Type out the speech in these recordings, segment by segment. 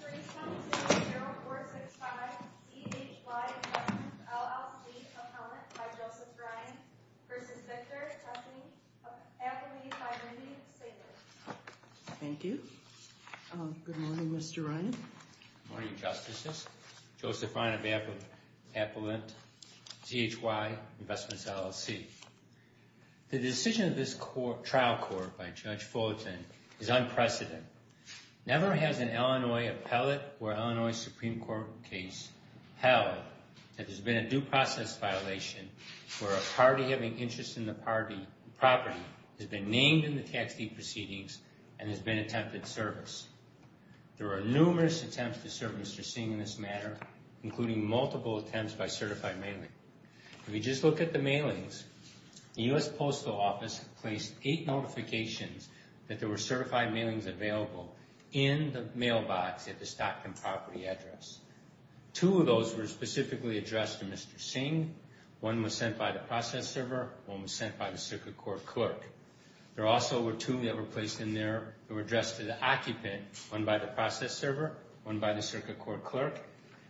0465 CHY Investments, LLC, Appellant by Joseph Ryan v. Victor Hsing, Appellate by Randy Saber. Thank you. Good morning, Mr. Ryan. Good morning, Justices. Joseph Ryan of Appellate, CHY Investments, LLC. The decision of this trial court by Judge Fulton is unprecedented. Never has an Illinois appellate or Illinois Supreme Court case held that there's been a due process violation where a party having interest in the property has been named in the tax deed proceedings and has been attempted service. There are numerous attempts to service for Hsing in this matter, including multiple attempts by certified mailing. If you just look at the mailings, the U.S. Postal Office placed eight notifications that there were certified mailings available in the mailbox at the Stockton property address. Two of those were specifically addressed to Mr. Hsing. One was sent by the process server. One was sent by the circuit court clerk. There also were two that were placed in there that were addressed to the occupant, one by the process server, one by the circuit court clerk.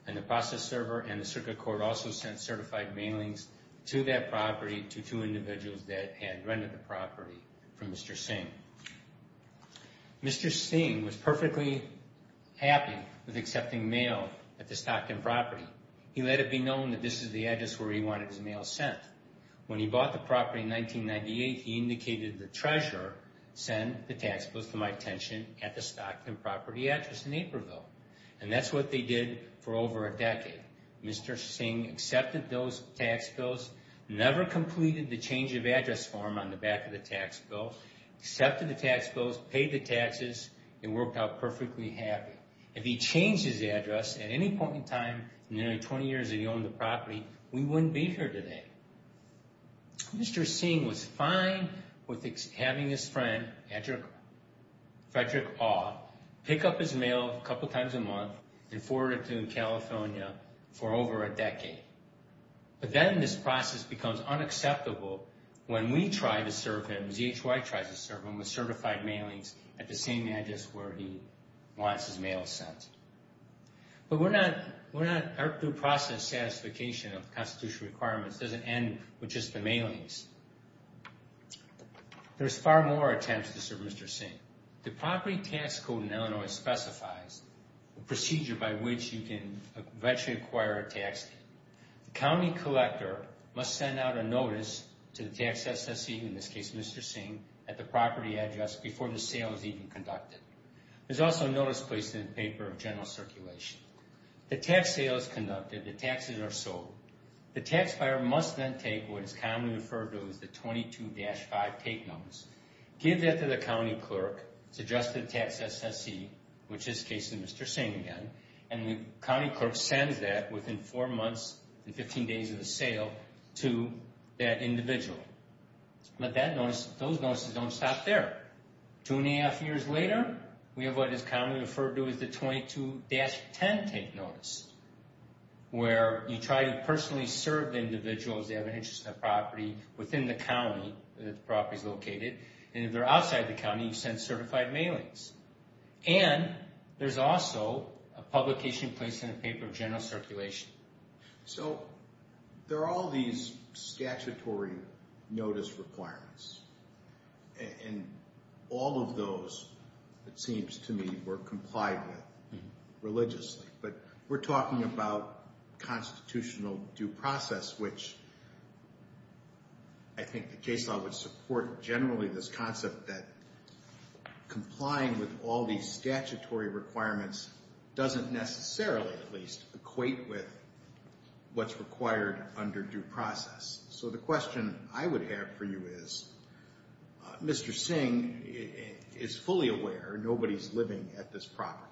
And the process server and the circuit court also sent certified mailings to that property to two individuals that had rented the property from Mr. Hsing. Mr. Hsing was perfectly happy with accepting mail at the Stockton property. He let it be known that this is the address where he wanted his mail sent. When he bought the property in 1998, he indicated the treasurer sent the tax bills to my attention at the Stockton property address in Aprilville. And that's what they did for over a decade. Mr. Hsing accepted those tax bills, never completed the change of address form on the back of the tax bill, accepted the tax bills, paid the taxes, and worked out perfectly happy. If he changed his address at any point in time in the 20 years that he owned the property, we wouldn't be here today. Mr. Hsing was fine with having his friend, Frederick Paugh, pick up his mail a couple times a month and forward it to him in California for over a decade. But then this process becomes unacceptable when we try to serve him, as EHY tries to serve him, with certified mailings at the same address where he wants his mail sent. But we're not, our due process satisfication of constitutional requirements doesn't end with just the mailings. There's far more attempts to serve Mr. Hsing. The property tax code in Illinois specifies a procedure by which you can eventually acquire a tax deed. The county collector must send out a notice to the tax assessee, in this case Mr. Hsing, at the property address before the sale is even conducted. There's also a notice placed in the paper of general circulation. The tax sale is conducted, the taxes are sold. The tax buyer must then take what is commonly referred to as the 22-5 take notice, give that to the county clerk, suggest to the tax assessee, which in this case is Mr. Hsing again, and the county clerk sends that within four months and 15 days of the sale to that individual. But that notice, those notices don't stop there. Two and a half years later, we have what is commonly referred to as the 22-10 take notice, where you try to personally serve the individuals that have an interest in the property within the county that the property is located, and if they're outside the county, you send certified mailings. And there's also a publication placed in a paper of general circulation. So there are all these statutory notice requirements, and all of those, it seems to me, were complied with religiously. But we're talking about constitutional due process, which I think the case law would support generally this concept that complying with all these statutory requirements doesn't necessarily, at least, equate with what's required under due process. So the question I would have for you is, Mr. Hsing is fully aware nobody's living at this property,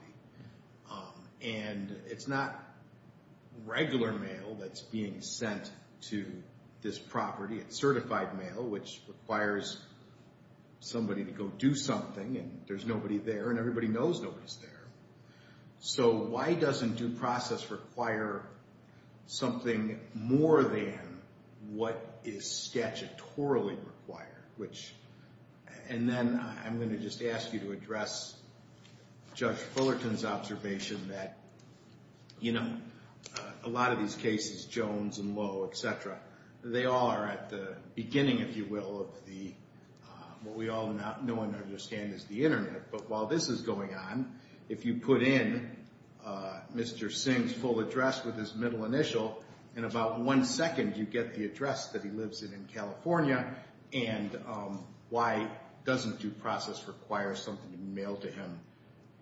and it's not regular mail that's being sent to this property. It's certified mail, which requires somebody to go do something, and there's nobody there, and everybody knows nobody's there. So why doesn't due process require something more than what is statutorily required? And then I'm going to just ask you to address Judge Fullerton's observation that, you know, a lot of these cases, Jones and Lowe, et cetera, they all are at the beginning, if you will, of what we all know and understand is the Internet. But while this is going on, if you put in Mr. Hsing's full address with his middle initial, in about one second you get the address that he lives in in California, and why doesn't due process require something to be mailed to him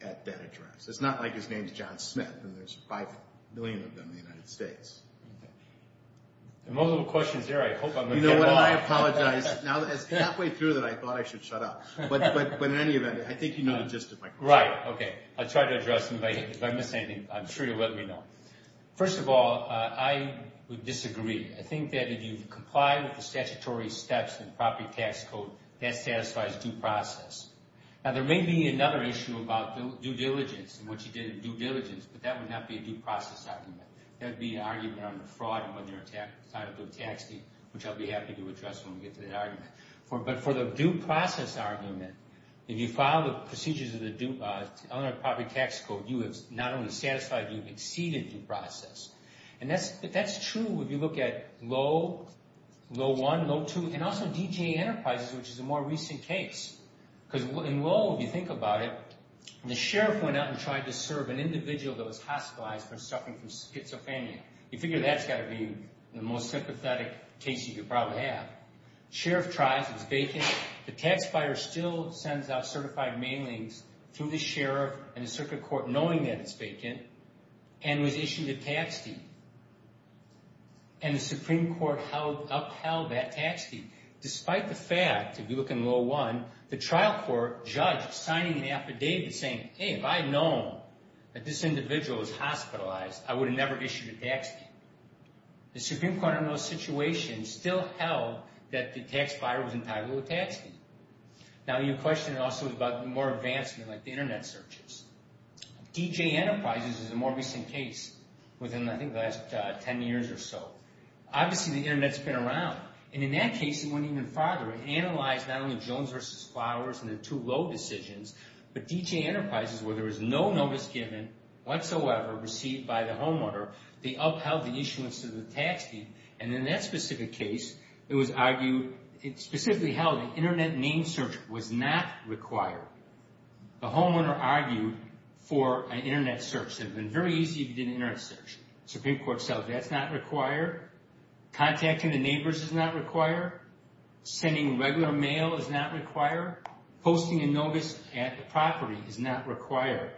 at that address? It's not like his name's John Smith and there's 5 million of them in the United States. There are multiple questions here. I hope I'm going to get a lot. You know what? I apologize. Now that it's halfway through that I thought I should shut up. But in any event, I think you know the gist of my question. Right. Okay. I'll try to address them. If I miss anything, I'm sure you'll let me know. First of all, I would disagree. I think that if you comply with the statutory steps in the property tax code, that satisfies due process. Now there may be another issue about due diligence and what you did in due diligence, but that would not be a due process argument. That would be an argument on the fraud and whether you're entitled to a tax deed, which I'll be happy to address when we get to that argument. But for the due process argument, if you follow the procedures of the Eleanor Property Tax Code, you have not only satisfied, you've exceeded due process. And that's true if you look at Lowe, Lowe 1, Lowe 2, and also DGA Enterprises, which is a more recent case. Because in Lowe, if you think about it, the sheriff went out and tried to serve an individual that was hospitalized for suffering from schizophrenia. You figure that's got to be the most sympathetic case you could probably have. Sheriff tries, it's vacant. The tax buyer still sends out certified mailings through the sheriff and the circuit court knowing that it's vacant and was issued a tax deed. And the Supreme Court upheld that tax deed. Despite the fact, if you look in Lowe 1, the trial court judge signing an affidavit saying, hey, if I had known that this individual was hospitalized, I would have never issued a tax deed. The Supreme Court in Lowe's situation still held that the tax buyer was entitled to a tax deed. Now, your question also is about more advancement like the Internet searches. DGA Enterprises is a more recent case within, I think, the last 10 years or so. Obviously, the Internet's been around. And in that case, it went even farther. It analyzed not only Jones v. Flowers and the two Lowe decisions, but DGA Enterprises, where there was no notice given whatsoever received by the homeowner, they upheld the issuance of the tax deed. And in that specific case, it was argued, it specifically held the Internet name search was not required. The homeowner argued for an Internet search. It would have been very easy if you did an Internet search. The Supreme Court says that's not required. Contacting the neighbors is not required. Sending regular mail is not required. Posting a notice at the property is not required.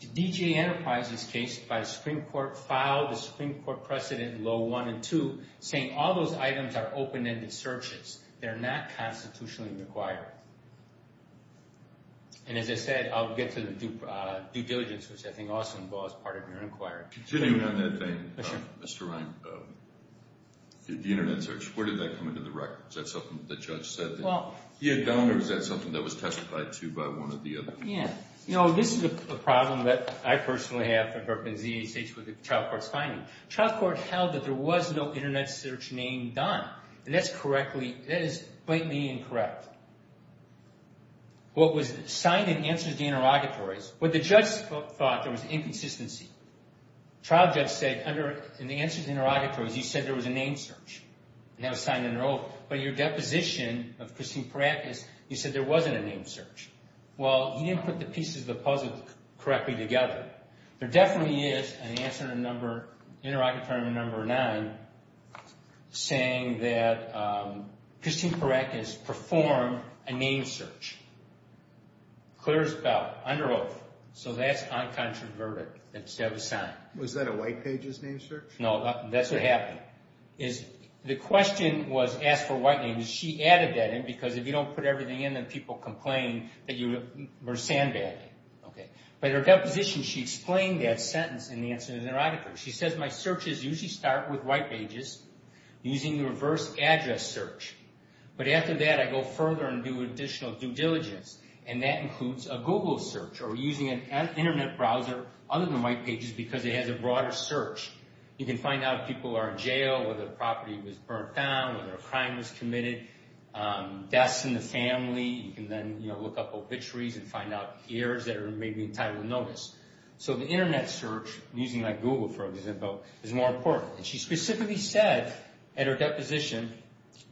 The DGA Enterprises case by the Supreme Court filed the Supreme Court precedent in Law 1 and 2 saying all those items are open-ended searches. They're not constitutionally required. And as I said, I'll get to the due diligence, which I think also involves part of your inquiry. Continuing on that thing, Mr. Ryan, the Internet search, where did that come into the record? Is that something that the judge said? He had done, or is that something that was testified to by one or the other? Yeah. You know, this is a problem that I personally have for the Department of the United States with the child court's finding. The child court held that there was no Internet search name done, and that is blatantly incorrect. What was signed in Answers to Interrogatories, what the judge thought, there was inconsistency. The trial judge said, in the Answers to Interrogatories, you said there was a name search. And that was signed under oath. But in your deposition of Christine Perrakis, you said there wasn't a name search. Well, he didn't put the pieces of the puzzle correctly together. There definitely is an Answer to Interrogatory Number 9 saying that Christine Perrakis performed a name search. Clear as a bell, under oath. So that's uncontroverted. That was signed. Was that a white pages name search? No, that's what happened. The question was asked for white names. She added that in because if you don't put everything in, then people complain that you were sandbagging. But in her deposition, she explained that sentence in the Answers to Interrogatories. She says, my searches usually start with white pages using the reverse address search. But after that, I go further and do additional due diligence. And that includes a Google search or using an Internet browser other than white pages because it has a broader search. You can find out if people are in jail, whether a property was burnt down, whether a crime was committed, deaths in the family. You can then look up obituaries and find out years that are maybe entitled to notice. So the Internet search, using like Google, for example, is more important. And she specifically said at her deposition,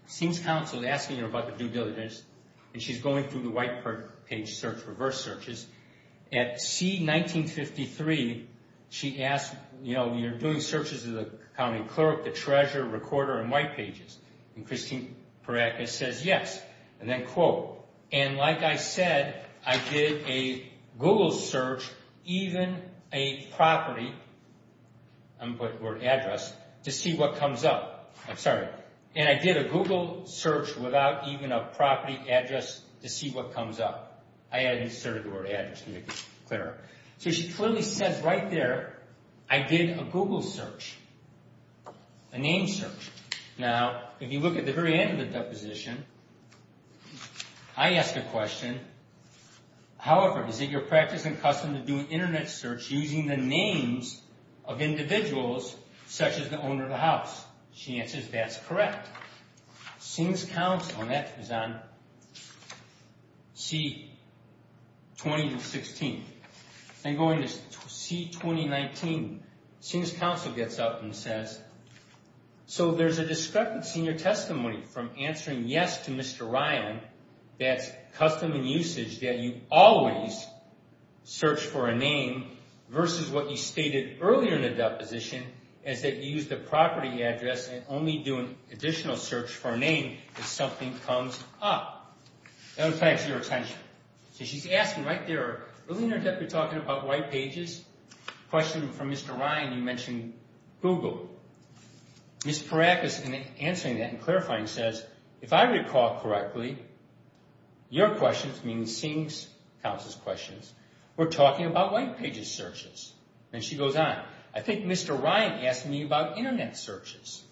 since counsel is asking her about the due diligence, and she's going through the white page search, reverse searches. At C-1953, she asked, you know, you're doing searches of the county clerk, the treasurer, recorder, and white pages. And Christine Perattis says yes, and then quote. And like I said, I did a Google search, even a property, or address, to see what comes up. I'm sorry. And I did a Google search without even a property address to see what comes up. I had inserted the word address to make it clearer. So she clearly says right there, I did a Google search, a name search. Now, if you look at the very end of the deposition, I ask a question. However, is it your practice and custom to do an Internet search using the names of individuals such as the owner of the house? She answers, that's correct. Since counsel, and that is on C-2016. I'm going to C-2019. Since counsel gets up and says, so there's a discrepancy in your testimony from answering yes to Mr. Ryan, that's custom and usage that you always search for a name versus what you stated earlier in the deposition, is that you use the property address and only do an additional search for a name if something comes up. That would attract your attention. So she's asking right there, really in her depth, you're talking about white pages? Question from Mr. Ryan, you mentioned Google. Ms. Perattis, in answering that and clarifying, says, if I recall correctly, your questions, meaning seeing counsel's questions, were talking about white pages searches. And she goes on. I think Mr. Ryan asked me about Internet searches.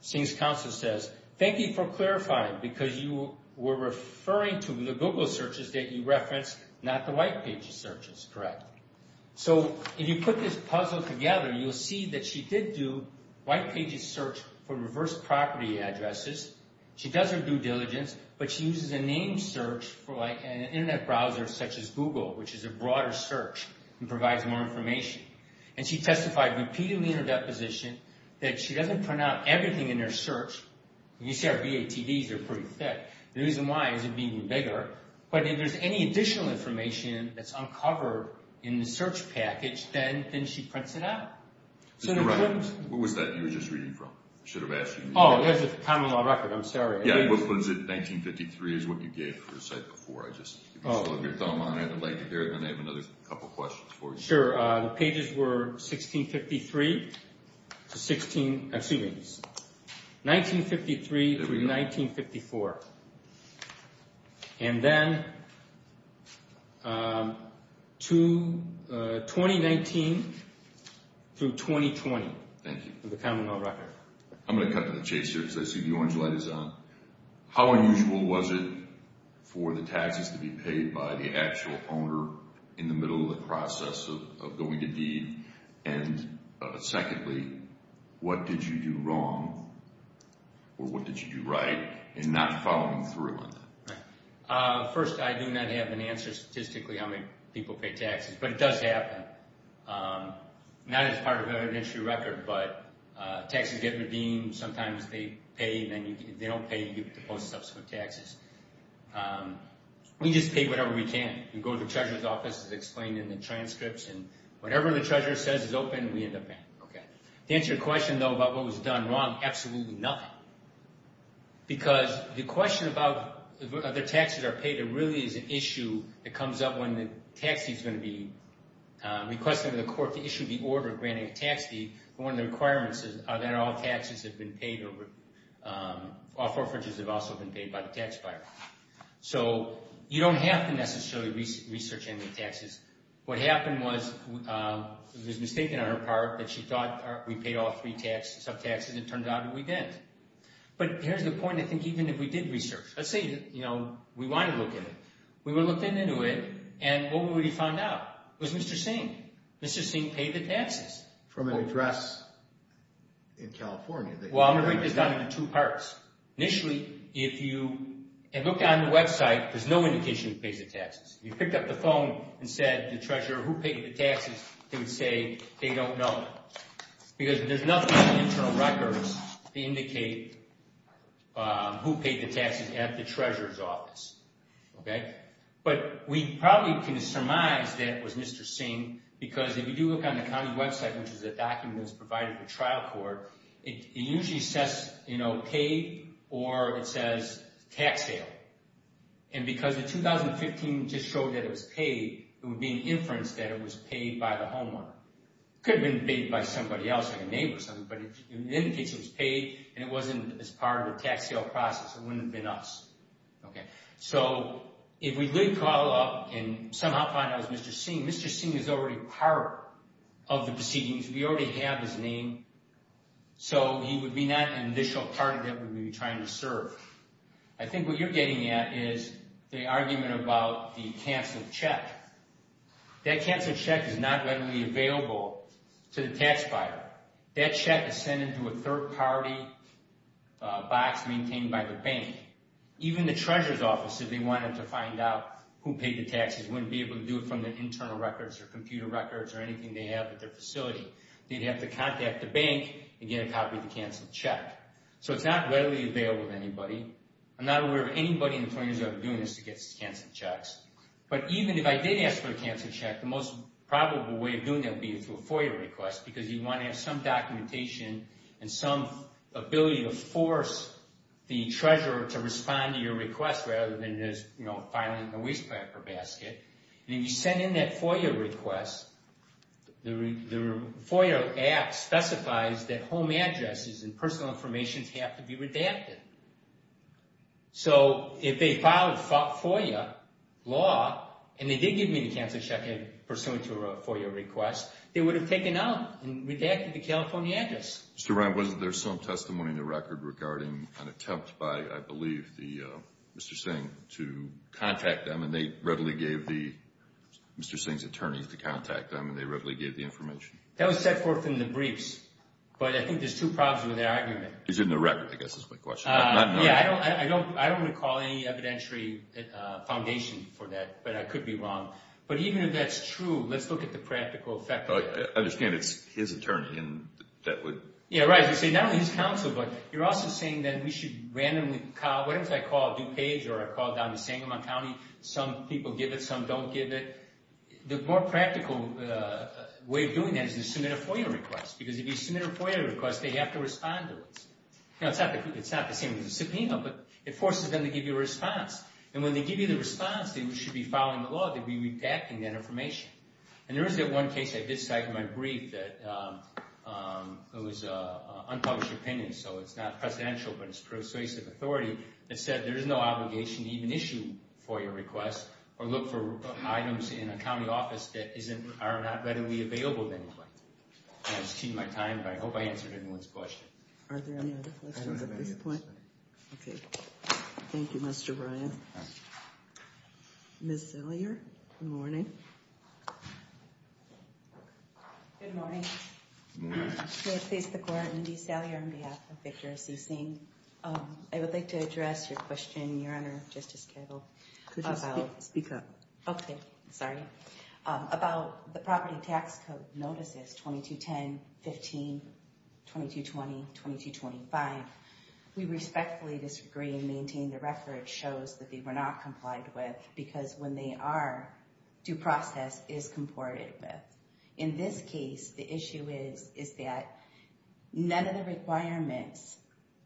Since counsel says, thank you for clarifying, because you were referring to the Google searches that you referenced, not the white pages searches, correct. So if you put this puzzle together, you'll see that she did do white pages search for reverse property addresses. She does her due diligence, but she uses a name search for an Internet browser such as Google, which is a broader search and provides more information. And she testified repeatedly in her deposition that she doesn't print out everything in her search. You see our VATDs are pretty thick. The reason why is it being bigger. But if there's any additional information that's uncovered in the search package, then she prints it out. Mr. Ryan, what was that you were just reading from? I should have asked you. Oh, there's a common law record. I'm sorry. Yeah, what was it? 1953 is what you gave for a site before. I'd like to hear it. I have another couple questions for you. Sure. The pages were 1653 to 1954. And then 2019 through 2020. Thank you. The common law record. I'm going to cut to the chase here because I see the orange light is on. How unusual was it for the taxes to be paid by the actual owner in the middle of the process of going to deed? And secondly, what did you do wrong or what did you do right in not following through on that? First, I do not have an answer statistically how many people pay taxes, but it does happen. Not as part of an industry record, but taxes get redeemed. Sometimes they pay and then if they don't pay, you get the post-subsequent taxes. We just pay whatever we can. We go to the treasurer's office, as explained in the transcripts, and whatever the treasurer says is open, we end up paying. To answer your question, though, about what was done wrong, absolutely nothing. Because the question about whether taxes are paid, it really is an issue that comes up when the tax deed is going to be requested to the court to issue the order granting a tax deed. One of the requirements is that all taxes have been paid, all forfeitures have also been paid by the taxpayer. So you don't have to necessarily research any taxes. What happened was it was mistaken on her part that she thought we paid all three sub-taxes. It turns out that we didn't. But here's the point. I think even if we did research, let's say we want to look at it. We would have looked into it and what would we find out? It was Mr. Singh. Mr. Singh paid the taxes. From an address in California. Well, I'm going to break this down into two parts. Initially, if you look on the website, there's no indication he pays the taxes. If you picked up the phone and said to the treasurer, who paid the taxes, they would say they don't know. Because there's nothing on the internal records to indicate who paid the taxes at the treasurer's office. But we probably can surmise that it was Mr. Singh. Because if you do look on the county website, which is a document that's provided for trial court, it usually says paid or it says tax sale. And because the 2015 just showed that it was paid, it would be an inference that it was paid by the homeowner. It could have been paid by somebody else, like a neighbor or something. But it indicates it was paid and it wasn't as part of the tax sale process. It wouldn't have been us. So if we did call up and somehow find out it was Mr. Singh, Mr. Singh is already part of the proceedings. We already have his name. So he would be not an initial party that we would be trying to serve. I think what you're getting at is the argument about the canceled check. That canceled check is not readily available to the tax buyer. That check is sent into a third party box maintained by the bank. Even the treasurer's office, if they wanted to find out who paid the taxes, wouldn't be able to do it from their internal records or computer records or anything they have at their facility. They'd have to contact the bank and get a copy of the canceled check. So it's not readily available to anybody. I'm not aware of anybody in the 20 years I've been doing this that gets canceled checks. But even if I did ask for a canceled check, the most probable way of doing that would be through a FOIA request. Because you want to have some documentation and some ability to force the treasurer to respond to your request rather than just filing it in a waste paper basket. And if you send in that FOIA request, the FOIA app specifies that home addresses and personal information have to be redacted. So if they filed FOIA law and they did give me the canceled check pursuant to a FOIA request, they would have taken out and redacted the California address. Mr. Ryan, was there some testimony in the record regarding an attempt by, I believe, Mr. Singh to contact them, and they readily gave the – Mr. Singh's attorneys to contact them, and they readily gave the information? That was set forth in the briefs, but I think there's two problems with that argument. It's in the record, I guess, is my question. Yeah, I don't recall any evidentiary foundation for that, but I could be wrong. But even if that's true, let's look at the practical effect of it. I understand it's his attorney that would – Yeah, right. You see, not only his counsel, but you're also saying that we should randomly – whatever I call a due page or I call down to Sangamon County, some people give it, some don't give it. The more practical way of doing that is to submit a FOIA request, because if you submit a FOIA request, they have to respond to it. It's not the same as a subpoena, but it forces them to give you a response. And when they give you the response, they should be following the law. They'd be redacting that information. And there is that one case I did cite in my brief that – it was unpublished opinion, so it's not presidential, but it's persuasive authority – that said there is no obligation to even issue FOIA requests or look for items in a county office that are not readily available to anybody. I'm just cheating my time, but I hope I answered everyone's question. I don't have any. Okay. Thank you, Mr. Bryan. Ms. Salyer, good morning. Good morning. Good morning. May it please the Court, I'm Dee Salyer on behalf of Victor C. Singh. I would like to address your question, Your Honor, Justice Cable. Could you speak up? Okay. Sorry. About the property tax code notices 2210, 15, 2220, 2225, we respectfully disagree and maintain the reference shows that they were not complied with because when they are, due process is comported with. In this case, the issue is that none of the requirements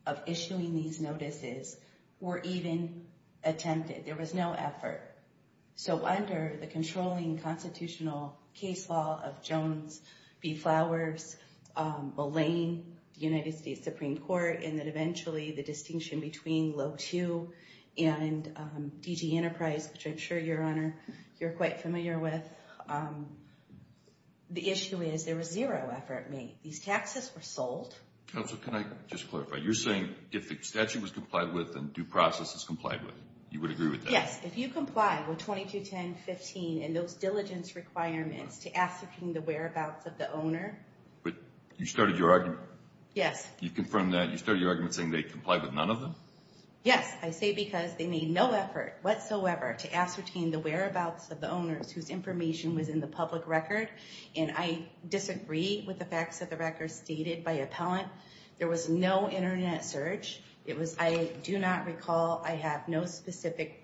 of issuing these notices were even attempted. There was no effort. So under the controlling constitutional case law of Jones v. Flowers, belaying the United States Supreme Court, and then eventually the distinction between low two and DG Enterprise, which I'm sure, Your Honor, you're quite familiar with. The issue is there was zero effort made. These taxes were sold. Counsel, can I just clarify? You're saying if the statute was complied with, then due process is complied with. You would agree with that? Yes. If you comply with 2210, 15 and those diligence requirements to ascertain the whereabouts of the owner. But you started your argument. Yes. You confirmed that. You started your argument saying they complied with none of them? Yes. I say because they made no effort whatsoever to ascertain the whereabouts of the owners whose information was in the public record. And I disagree with the facts of the record stated by appellant. There was no Internet search. I do not recall I have no specific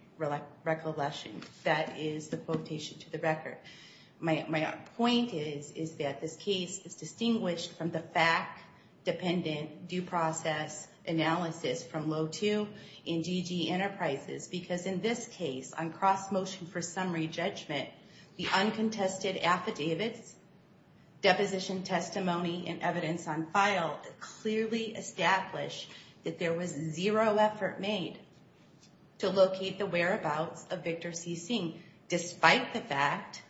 recollection that is the quotation to the record. My point is that this case is distinguished from the fact dependent due process analysis from low two and DG Enterprises. Because in this case, on cross motion for summary judgment, the uncontested affidavits, deposition testimony, and evidence on file clearly establish that there was zero effort made to locate the whereabouts of Victor C. Singh. Despite the fact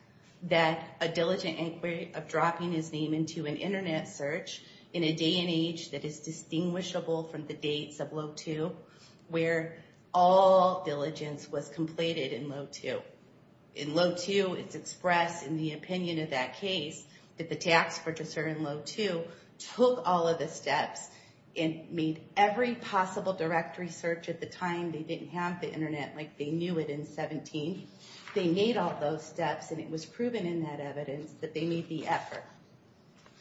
that a diligent inquiry of dropping his name into an Internet search in a day and age that is distinguishable from the dates of low two, where all diligence was completed in low two. In low two, it's expressed in the opinion of that case that the tax purchaser in low two took all of the steps and made every possible directory search at the time. They didn't have the Internet like they knew it in 17. They made all those steps and it was proven in that evidence that they made the effort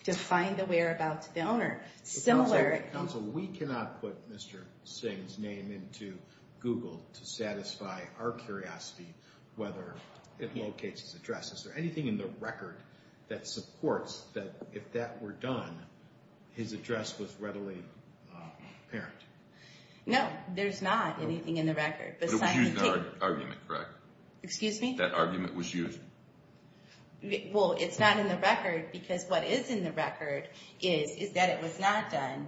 to find the whereabouts of the owner. Counsel, we cannot put Mr. Singh's name into Google to satisfy our curiosity whether it locates his address. Is there anything in the record that supports that if that were done, his address was readily apparent? No, there's not anything in the record. But it was used in that argument, correct? Excuse me? That argument was used. Well, it's not in the record because what is in the record is that it was not done.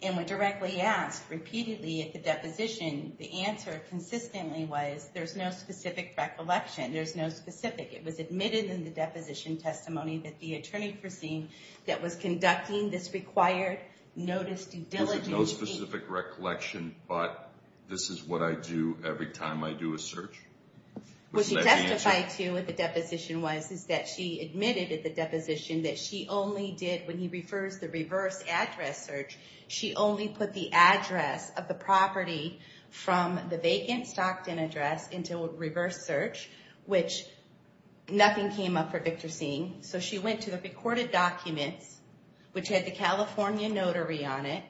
And when directly asked repeatedly at the deposition, the answer consistently was there's no specific recollection. There's no specific. It was admitted in the deposition testimony that the attorney for Singh that was conducting this required noticed diligence. Was it no specific recollection, but this is what I do every time I do a search? What she testified to at the deposition was is that she admitted at the deposition that she only did when he refers the reverse address search, she only put the address of the property from the vacant Stockton address into a reverse search, which nothing came up for Victor Singh. So she went to the recorded documents, which had the California notary on it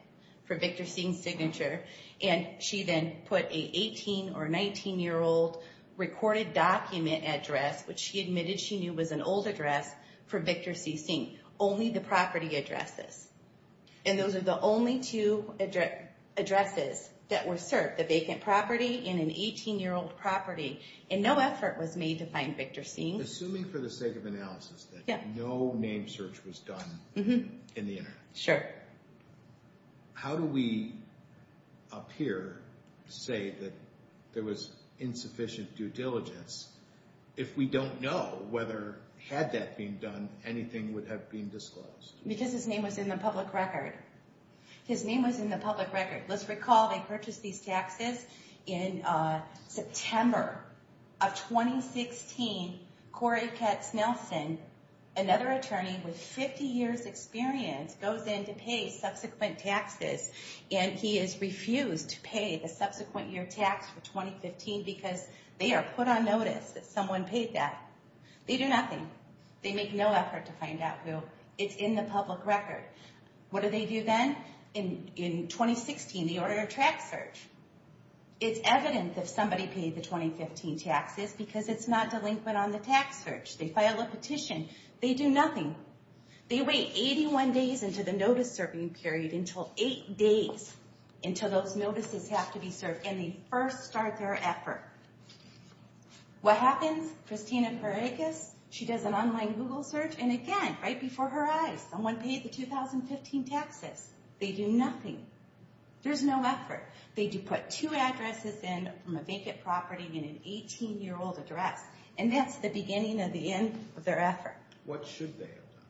for Victor Singh's signature. And she then put a 18 or 19-year-old recorded document address, which she admitted she knew was an old address for Victor C. Singh. Only the property addresses. And those are the only two addresses that were served, the vacant property and an 18-year-old property. And no effort was made to find Victor Singh. Assuming for the sake of analysis that no name search was done in the internet. Sure. How do we appear to say that there was insufficient due diligence if we don't know whether had that been done, anything would have been disclosed? Because his name was in the public record. His name was in the public record. Let's recall they purchased these taxes in September of 2016. Corey Katz Nelson, another attorney with 50 years experience, goes in to pay subsequent taxes. And he is refused to pay the subsequent year tax for 2015 because they are put on notice that someone paid that. They do nothing. They make no effort to find out who. It's in the public record. What do they do then? In 2016, they order a tax search. It's evident that somebody paid the 2015 taxes because it's not delinquent on the tax search. They file a petition. They do nothing. They wait 81 days into the notice-serving period until 8 days until those notices have to be served and they first start their effort. What happens? She does an online Google search. And again, right before her eyes, someone paid the 2015 taxes. They do nothing. There's no effort. They do put two addresses in from a vacant property and an 18-year-old address. And that's the beginning of the end of their effort. What should they have done?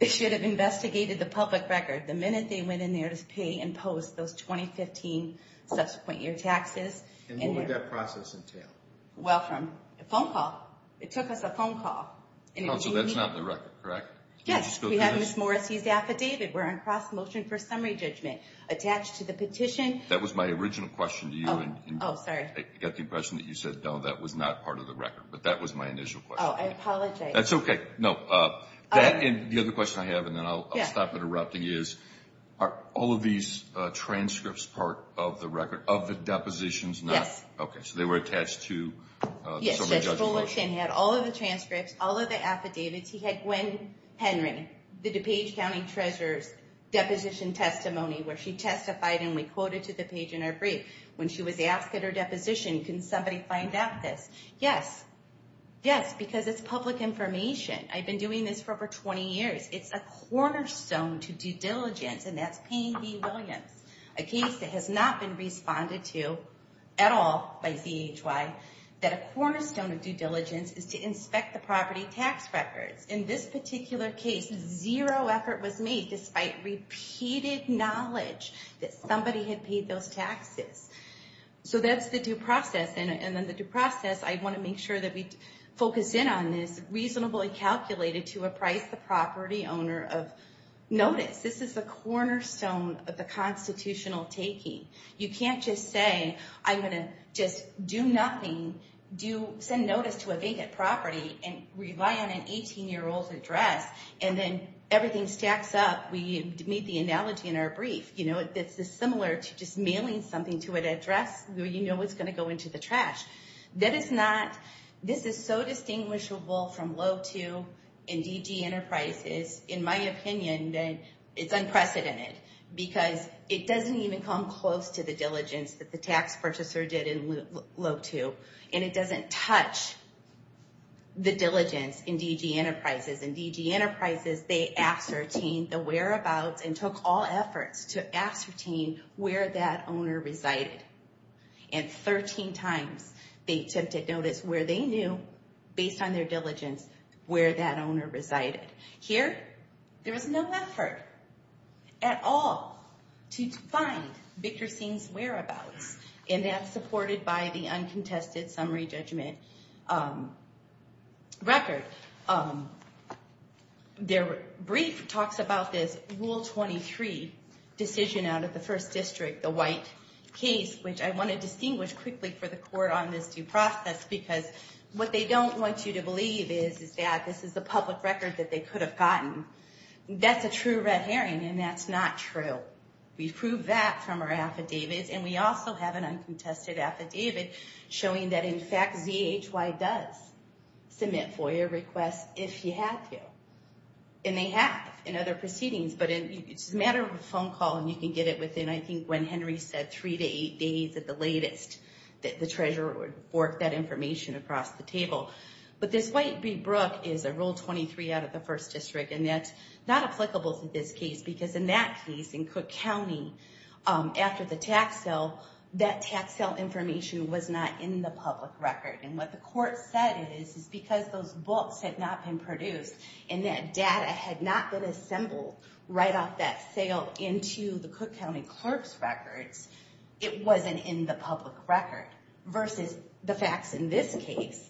They should have investigated the public record the minute they went in there to pay and post those 2015 subsequent year taxes. And what would that process entail? Well, from a phone call. It took us a phone call. So that's not in the record, correct? Yes. We have Ms. Morrissey's affidavit. We're on cross-motion for summary judgment attached to the petition. That was my original question to you. Oh, sorry. I got the impression that you said, no, that was not part of the record. But that was my initial question. Oh, I apologize. That's okay. No. The other question I have, and then I'll stop interrupting, is are all of these transcripts part of the record, of the depositions? Yes. Okay. So they were attached to the summary judgment motion. Yes. Judge Bulloch had all of the transcripts, all of the affidavits. He had Gwen Henry, the DuPage County Treasurer's deposition testimony where she testified and we quoted to the page in our brief. When she was asked at her deposition, can somebody find out this? Yes. Yes, because it's public information. I've been doing this for over 20 years. It's a cornerstone to due diligence, and that's Payne v. Williams, a case that has not been responded to at all. That a cornerstone of due diligence is to inspect the property tax records. In this particular case, zero effort was made despite repeated knowledge that somebody had paid those taxes. So that's the due process. And in the due process, I want to make sure that we focus in on this reasonably calculated to appraise the property owner of notice. This is a cornerstone of the constitutional taking. You can't just say, I'm going to just do nothing, send notice to a vacant property, and rely on an 18-year-old's address, and then everything stacks up. We made the analogy in our brief. You know, it's similar to just mailing something to an address where you know it's going to go into the trash. This is so distinguishable from low to and DG Enterprises. In my opinion, it's unprecedented because it doesn't even come close to the diligence that the tax purchaser did in low to. And it doesn't touch the diligence in DG Enterprises. In DG Enterprises, they ascertained the whereabouts and took all efforts to ascertain where that owner resided. And 13 times, they attempted notice where they knew, based on their diligence, where that owner resided. Here, there was no effort at all to find Victor Singh's whereabouts. And that's supported by the uncontested summary judgment record. Their brief talks about this Rule 23 decision out of the First District, the white case, which I want to distinguish quickly for the court on this due process. Because what they don't want you to believe is that this is a public record that they could have gotten. That's a true red herring, and that's not true. We've proved that from our affidavits, and we also have an uncontested affidavit showing that, in fact, ZHY does submit FOIA requests if you have to. And they have in other proceedings, but it's a matter of a phone call, and you can get it within, I think, when Henry said three to eight days at the latest. That the treasurer would fork that information across the table. But this White v. Brooke is a Rule 23 out of the First District, and that's not applicable to this case. Because in that case, in Cook County, after the tax sale, that tax sale information was not in the public record. And what the court said is, is because those books had not been produced, and that data had not been assembled right off that sale into the Cook County clerk's records, it wasn't in the public record, versus the facts in this case.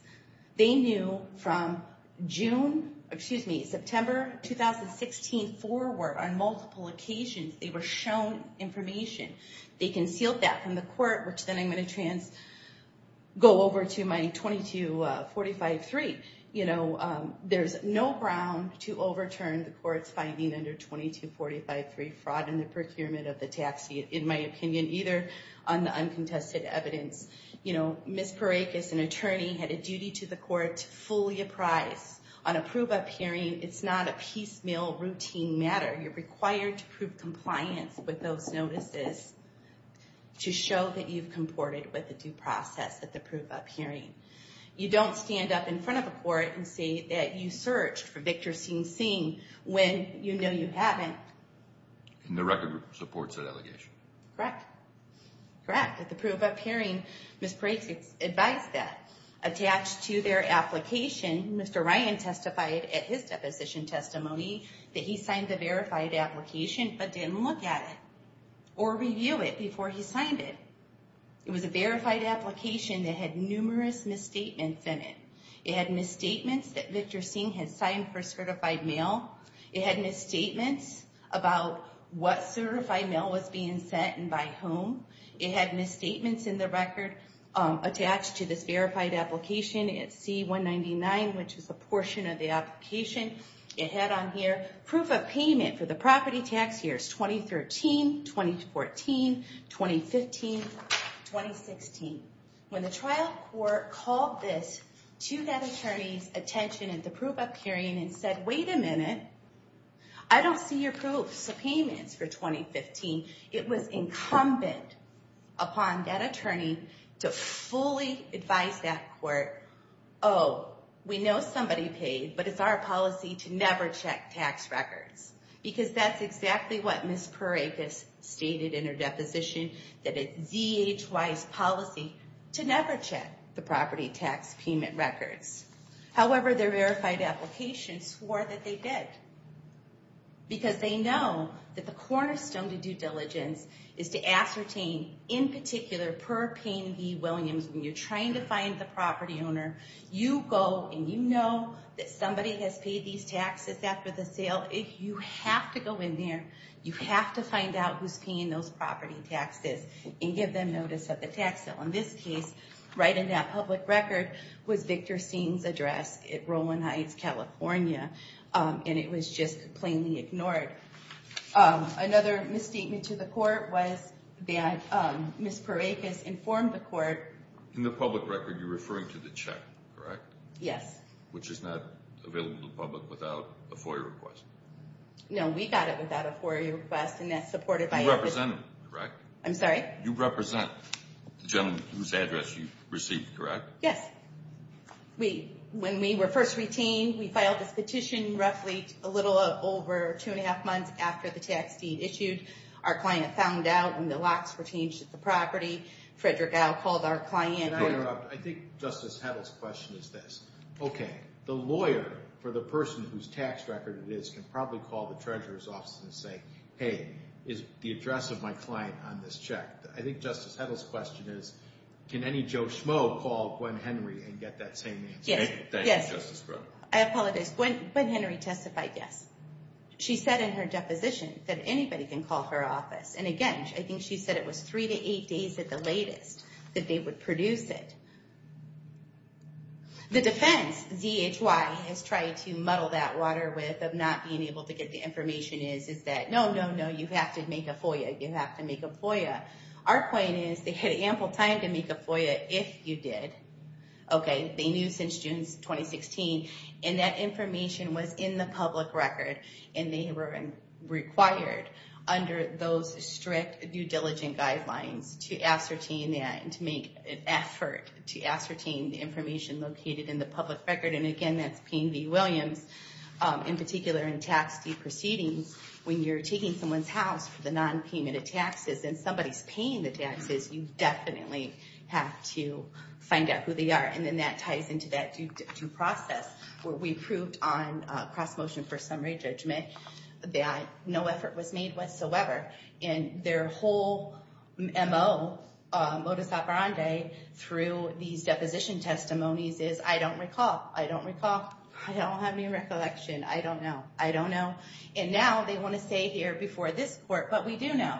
They knew from June, excuse me, September 2016 forward, on multiple occasions, they were shown information. They concealed that from the court, which then I'm going to trans, go over to my 2245.3. You know, there's no ground to overturn the court's finding under 2245.3, fraud in the procurement of the taxi, in my opinion, either on the uncontested evidence. You know, Ms. Parekes, an attorney, had a duty to the court to fully apprise on a prove-up hearing. It's not a piecemeal, routine matter. You're required to prove compliance with those notices to show that you've comported with the due process at the prove-up hearing. You don't stand up in front of the court and say that you searched for Victor Sing Sing when you know you haven't. And the record supports that allegation. Correct. Correct. At the prove-up hearing, Ms. Parekes advised that, attached to their application, Mr. Ryan testified at his deposition testimony that he signed the verified application but didn't look at it or review it before he signed it. It was a verified application that had numerous misstatements in it. It had misstatements that Victor Sing had signed for certified mail. It had misstatements about what certified mail was being sent and by whom. It had misstatements in the record attached to this verified application at C199, which is a portion of the application. It had on here proof of payment for the property tax years 2013, 2014, 2015, 2016. When the trial court called this to that attorney's attention at the prove-up hearing and said, wait a minute, I don't see your proofs of payments for 2015. It was incumbent upon that attorney to fully advise that court, oh, we know somebody paid, but it's our policy to never check tax records. Because that's exactly what Ms. Parekes stated in her deposition, that it's ZHY's policy to never check the property tax payment records. However, their verified application swore that they did. Because they know that the cornerstone to due diligence is to ascertain, in particular, per Payne v. Williams, when you're trying to find the property owner, you go and you know that somebody has paid these taxes after the sale. You have to go in there. You have to find out who's paying those property taxes and give them notice of the tax sale. In this case, right in that public record was Victor Sing's address at Rowan Heights, California. And it was just plainly ignored. Another misstatement to the court was that Ms. Parekes informed the court. In the public record, you're referring to the check, correct? Yes. Which is not available to the public without a FOIA request. No, we got it without a FOIA request, and that's supported by our position. You represent them, correct? I'm sorry? You represent the gentleman whose address you received, correct? Yes. When we were first retained, we filed this petition roughly a little over two and a half months after the tax deed issued. Our client found out, and the locks were changed at the property. Frederick Al called our client. I think Justice Heddle's question is this. Okay, the lawyer for the person whose tax record it is can probably call the treasurer's office and say, Hey, is the address of my client on this check? I think Justice Heddle's question is, can any Joe Schmo call Gwen Henry and get that same answer? Yes. Thank you, Justice Crowe. I apologize. Gwen Henry testified yes. She said in her deposition that anybody can call her office. And again, I think she said it was three to eight days at the latest that they would produce it. The defense ZHY has tried to muddle that water with of not being able to get the information is, No, no, no. You have to make a FOIA. You have to make a FOIA. Our point is they had ample time to make a FOIA if you did. Okay. They knew since June 2016. And that information was in the public record. And they were required under those strict due diligence guidelines to ascertain and to make an effort to ascertain the information located in the public record. And again, that's Payne v. Williams. In particular, in tax deed proceedings, when you're taking someone's house for the nonpayment of taxes and somebody's paying the taxes, you definitely have to find out who they are. And then that ties into that due process where we proved on cross motion for summary judgment that no effort was made whatsoever. And their whole MO, modus operandi, through these deposition testimonies is, I don't recall. I don't recall. I don't have any recollection. I don't know. I don't know. And now they want to stay here before this court. But we do know.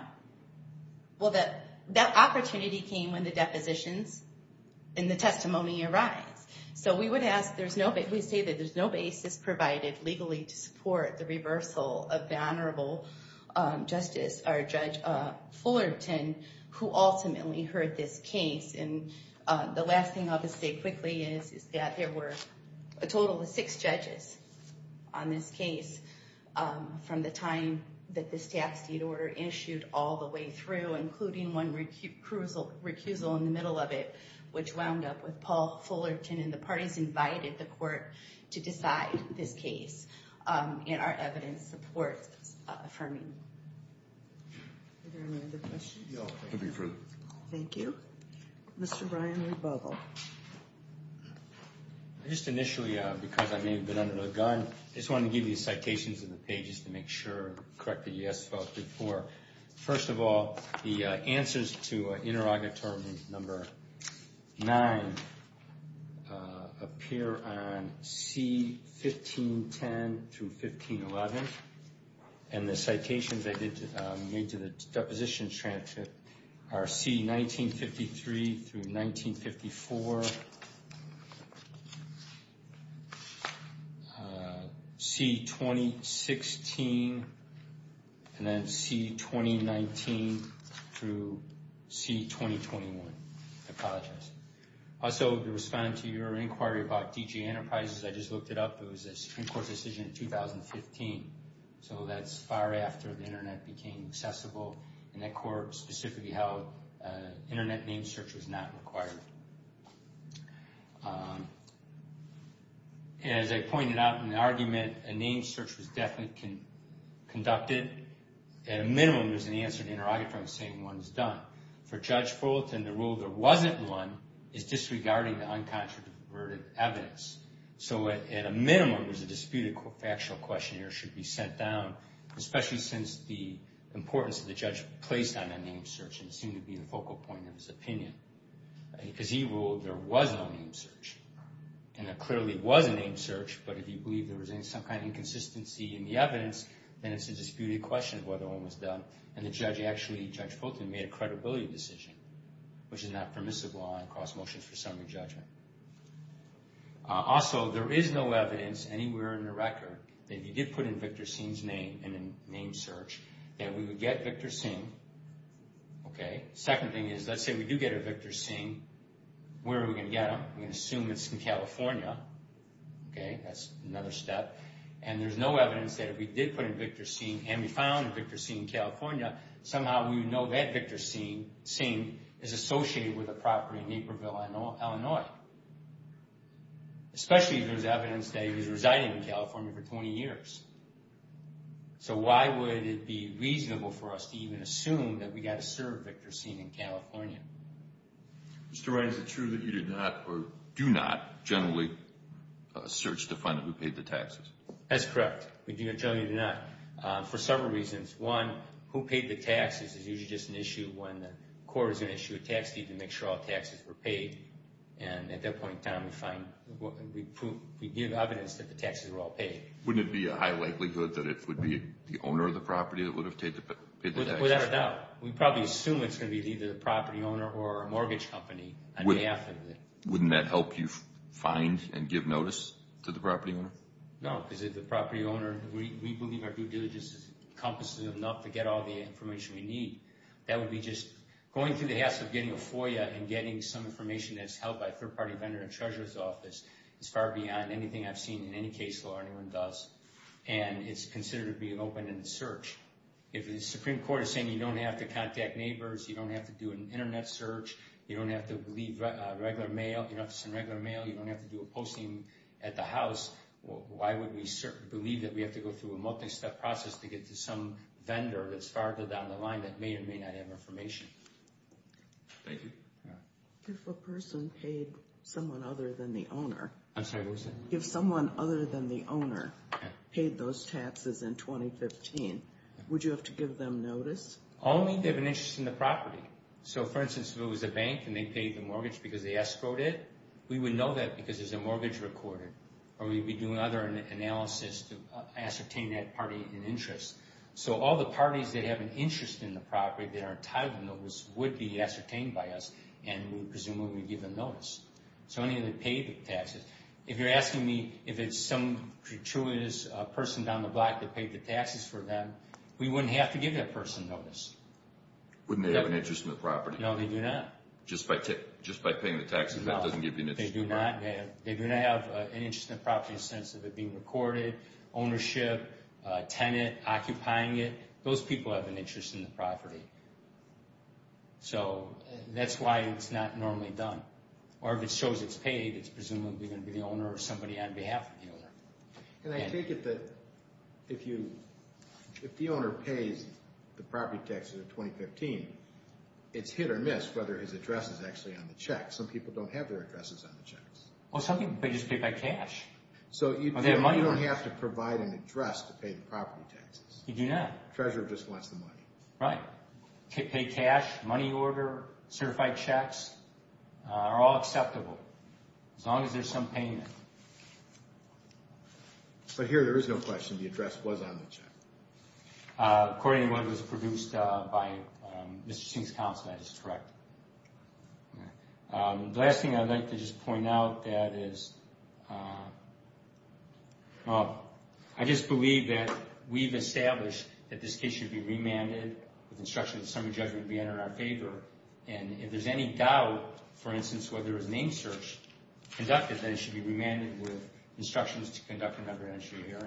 Well, that opportunity came when the depositions and the testimony arise. So we say that there's no basis provided legally to support the reversal of the Honorable Judge Fullerton, who ultimately heard this case. And the last thing I'll just say quickly is that there were a total of six judges on this case from the time that this tax deed order issued all the way through, including one recusal in the middle of it, which wound up with Paul Fullerton. And the parties invited the court to decide this case. And our evidence supports affirming. Are there any other questions? No. Thank you. Mr. Brian Rebogle. Just initially, because I may have been under the gun, I just wanted to give you citations in the pages to make sure, correct the yes vote before. First of all, the answers to interrogatory number nine appear on C-1510 through 1511. And the citations I made to the depositions transcript are C-1953 through 1954, C-2016, and then C-2019 through C-2021. I apologize. Also, responding to your inquiry about DG Enterprises, I just looked it up. It was a Supreme Court decision in 2015. So that's far after the internet became accessible. And that court specifically held internet name search was not required. As I pointed out in the argument, a name search was definitely conducted. At a minimum, there's an answer to interrogatory saying one is done. For Judge Fullerton, the rule there wasn't one is disregarding the uncontroverted evidence. So at a minimum, there's a disputed factual question there should be sent down, especially since the importance of the judge placed on that name search seemed to be the focal point of his opinion. Because he ruled there was no name search. And there clearly was a name search, but if you believe there was some kind of inconsistency in the evidence, then it's a disputed question of whether one was done. And the judge actually, Judge Fullerton, made a credibility decision, which is not permissible on cross motions for summary judgment. Also, there is no evidence anywhere in the record that if you did put in Victor Singh's name in a name search, that we would get Victor Singh. Second thing is, let's say we do get a Victor Singh. Where are we going to get him? We're going to assume it's in California. That's another step. And there's no evidence that if we did put in Victor Singh and we found Victor Singh in California, somehow we would know that Victor Singh is associated with a property in Naperville, Illinois. Especially if there's evidence that he was residing in California for 20 years. So why would it be reasonable for us to even assume that we got a served Victor Singh in California? Mr. Wright, is it true that you did not or do not generally search to find out who paid the taxes? That's correct. We do generally do not. For several reasons. One, who paid the taxes is usually just an issue when the court is going to issue a tax deed to make sure all taxes were paid. And at that point in time, we give evidence that the taxes were all paid. Wouldn't it be a high likelihood that it would be the owner of the property that would have paid the taxes? Without a doubt. We probably assume it's going to be either the property owner or a mortgage company on behalf of it. Wouldn't that help you find and give notice to the property owner? No, because if the property owner, we believe our due diligence encompasses enough to get all the information we need. That would be just going through the hassle of getting a FOIA and getting some information that's held by a third-party vendor and treasurer's office is far beyond anything I've seen in any case law or anyone does. And it's considered to be an open-ended search. If the Supreme Court is saying you don't have to contact neighbors, you don't have to do an Internet search, you don't have to send regular mail, you don't have to do a posting at the house, why would we believe that we have to go through a multi-step process to get to some vendor that's farther down the line that may or may not have information? Thank you. If a person paid someone other than the owner... I'm sorry, what was that? If someone other than the owner paid those taxes in 2015, would you have to give them notice? Only if they have an interest in the property. So, for instance, if it was a bank and they paid the mortgage because they escrowed it, we would know that because there's a mortgage recorded, or we'd be doing other analysis to ascertain that party in interest. So all the parties that have an interest in the property that are entitled to notice would be ascertained by us, and we'd presume we would give them notice. So only if they paid the taxes. If you're asking me if it's some gratuitous person down the block that paid the taxes for them, we wouldn't have to give that person notice. Wouldn't they have an interest in the property? No, they do not. Just by paying the taxes, that doesn't give you an interest? They do not. They do not have an interest in the property in the sense of it being recorded, ownership, tenant occupying it. Those people have an interest in the property. So that's why it's not normally done. Or if it shows it's paid, it's presumably going to be the owner or somebody on behalf of the owner. And I take it that if the owner pays the property taxes in 2015, it's hit or miss whether his address is actually on the check. Some people don't have their addresses on the checks. Well, some people just pay by cash. So you don't have to provide an address to pay the property taxes. You do not. Treasurer just wants the money. Right. Pay cash, money order, certified checks are all acceptable as long as there's some payment. But here there is no question the address was on the check. According to what was produced by Mr. Singh's counsel, that is correct. The last thing I'd like to just point out, that is, I just believe that we've established that this case should be remanded with instructions that summary judgment be entered in our favor. And if there's any doubt, for instance, whether a name search conducted, then it should be remanded with instructions to conduct another entry here.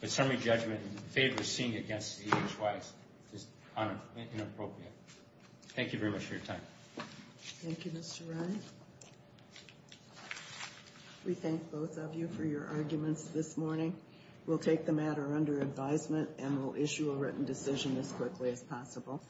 But summary judgment in favor of seeing it against the EHY is inappropriate. Thank you very much for your time. Thank you, Mr. Ryan. We thank both of you for your arguments this morning. We'll take the matter under advisement and we'll issue a written decision as quickly as possible.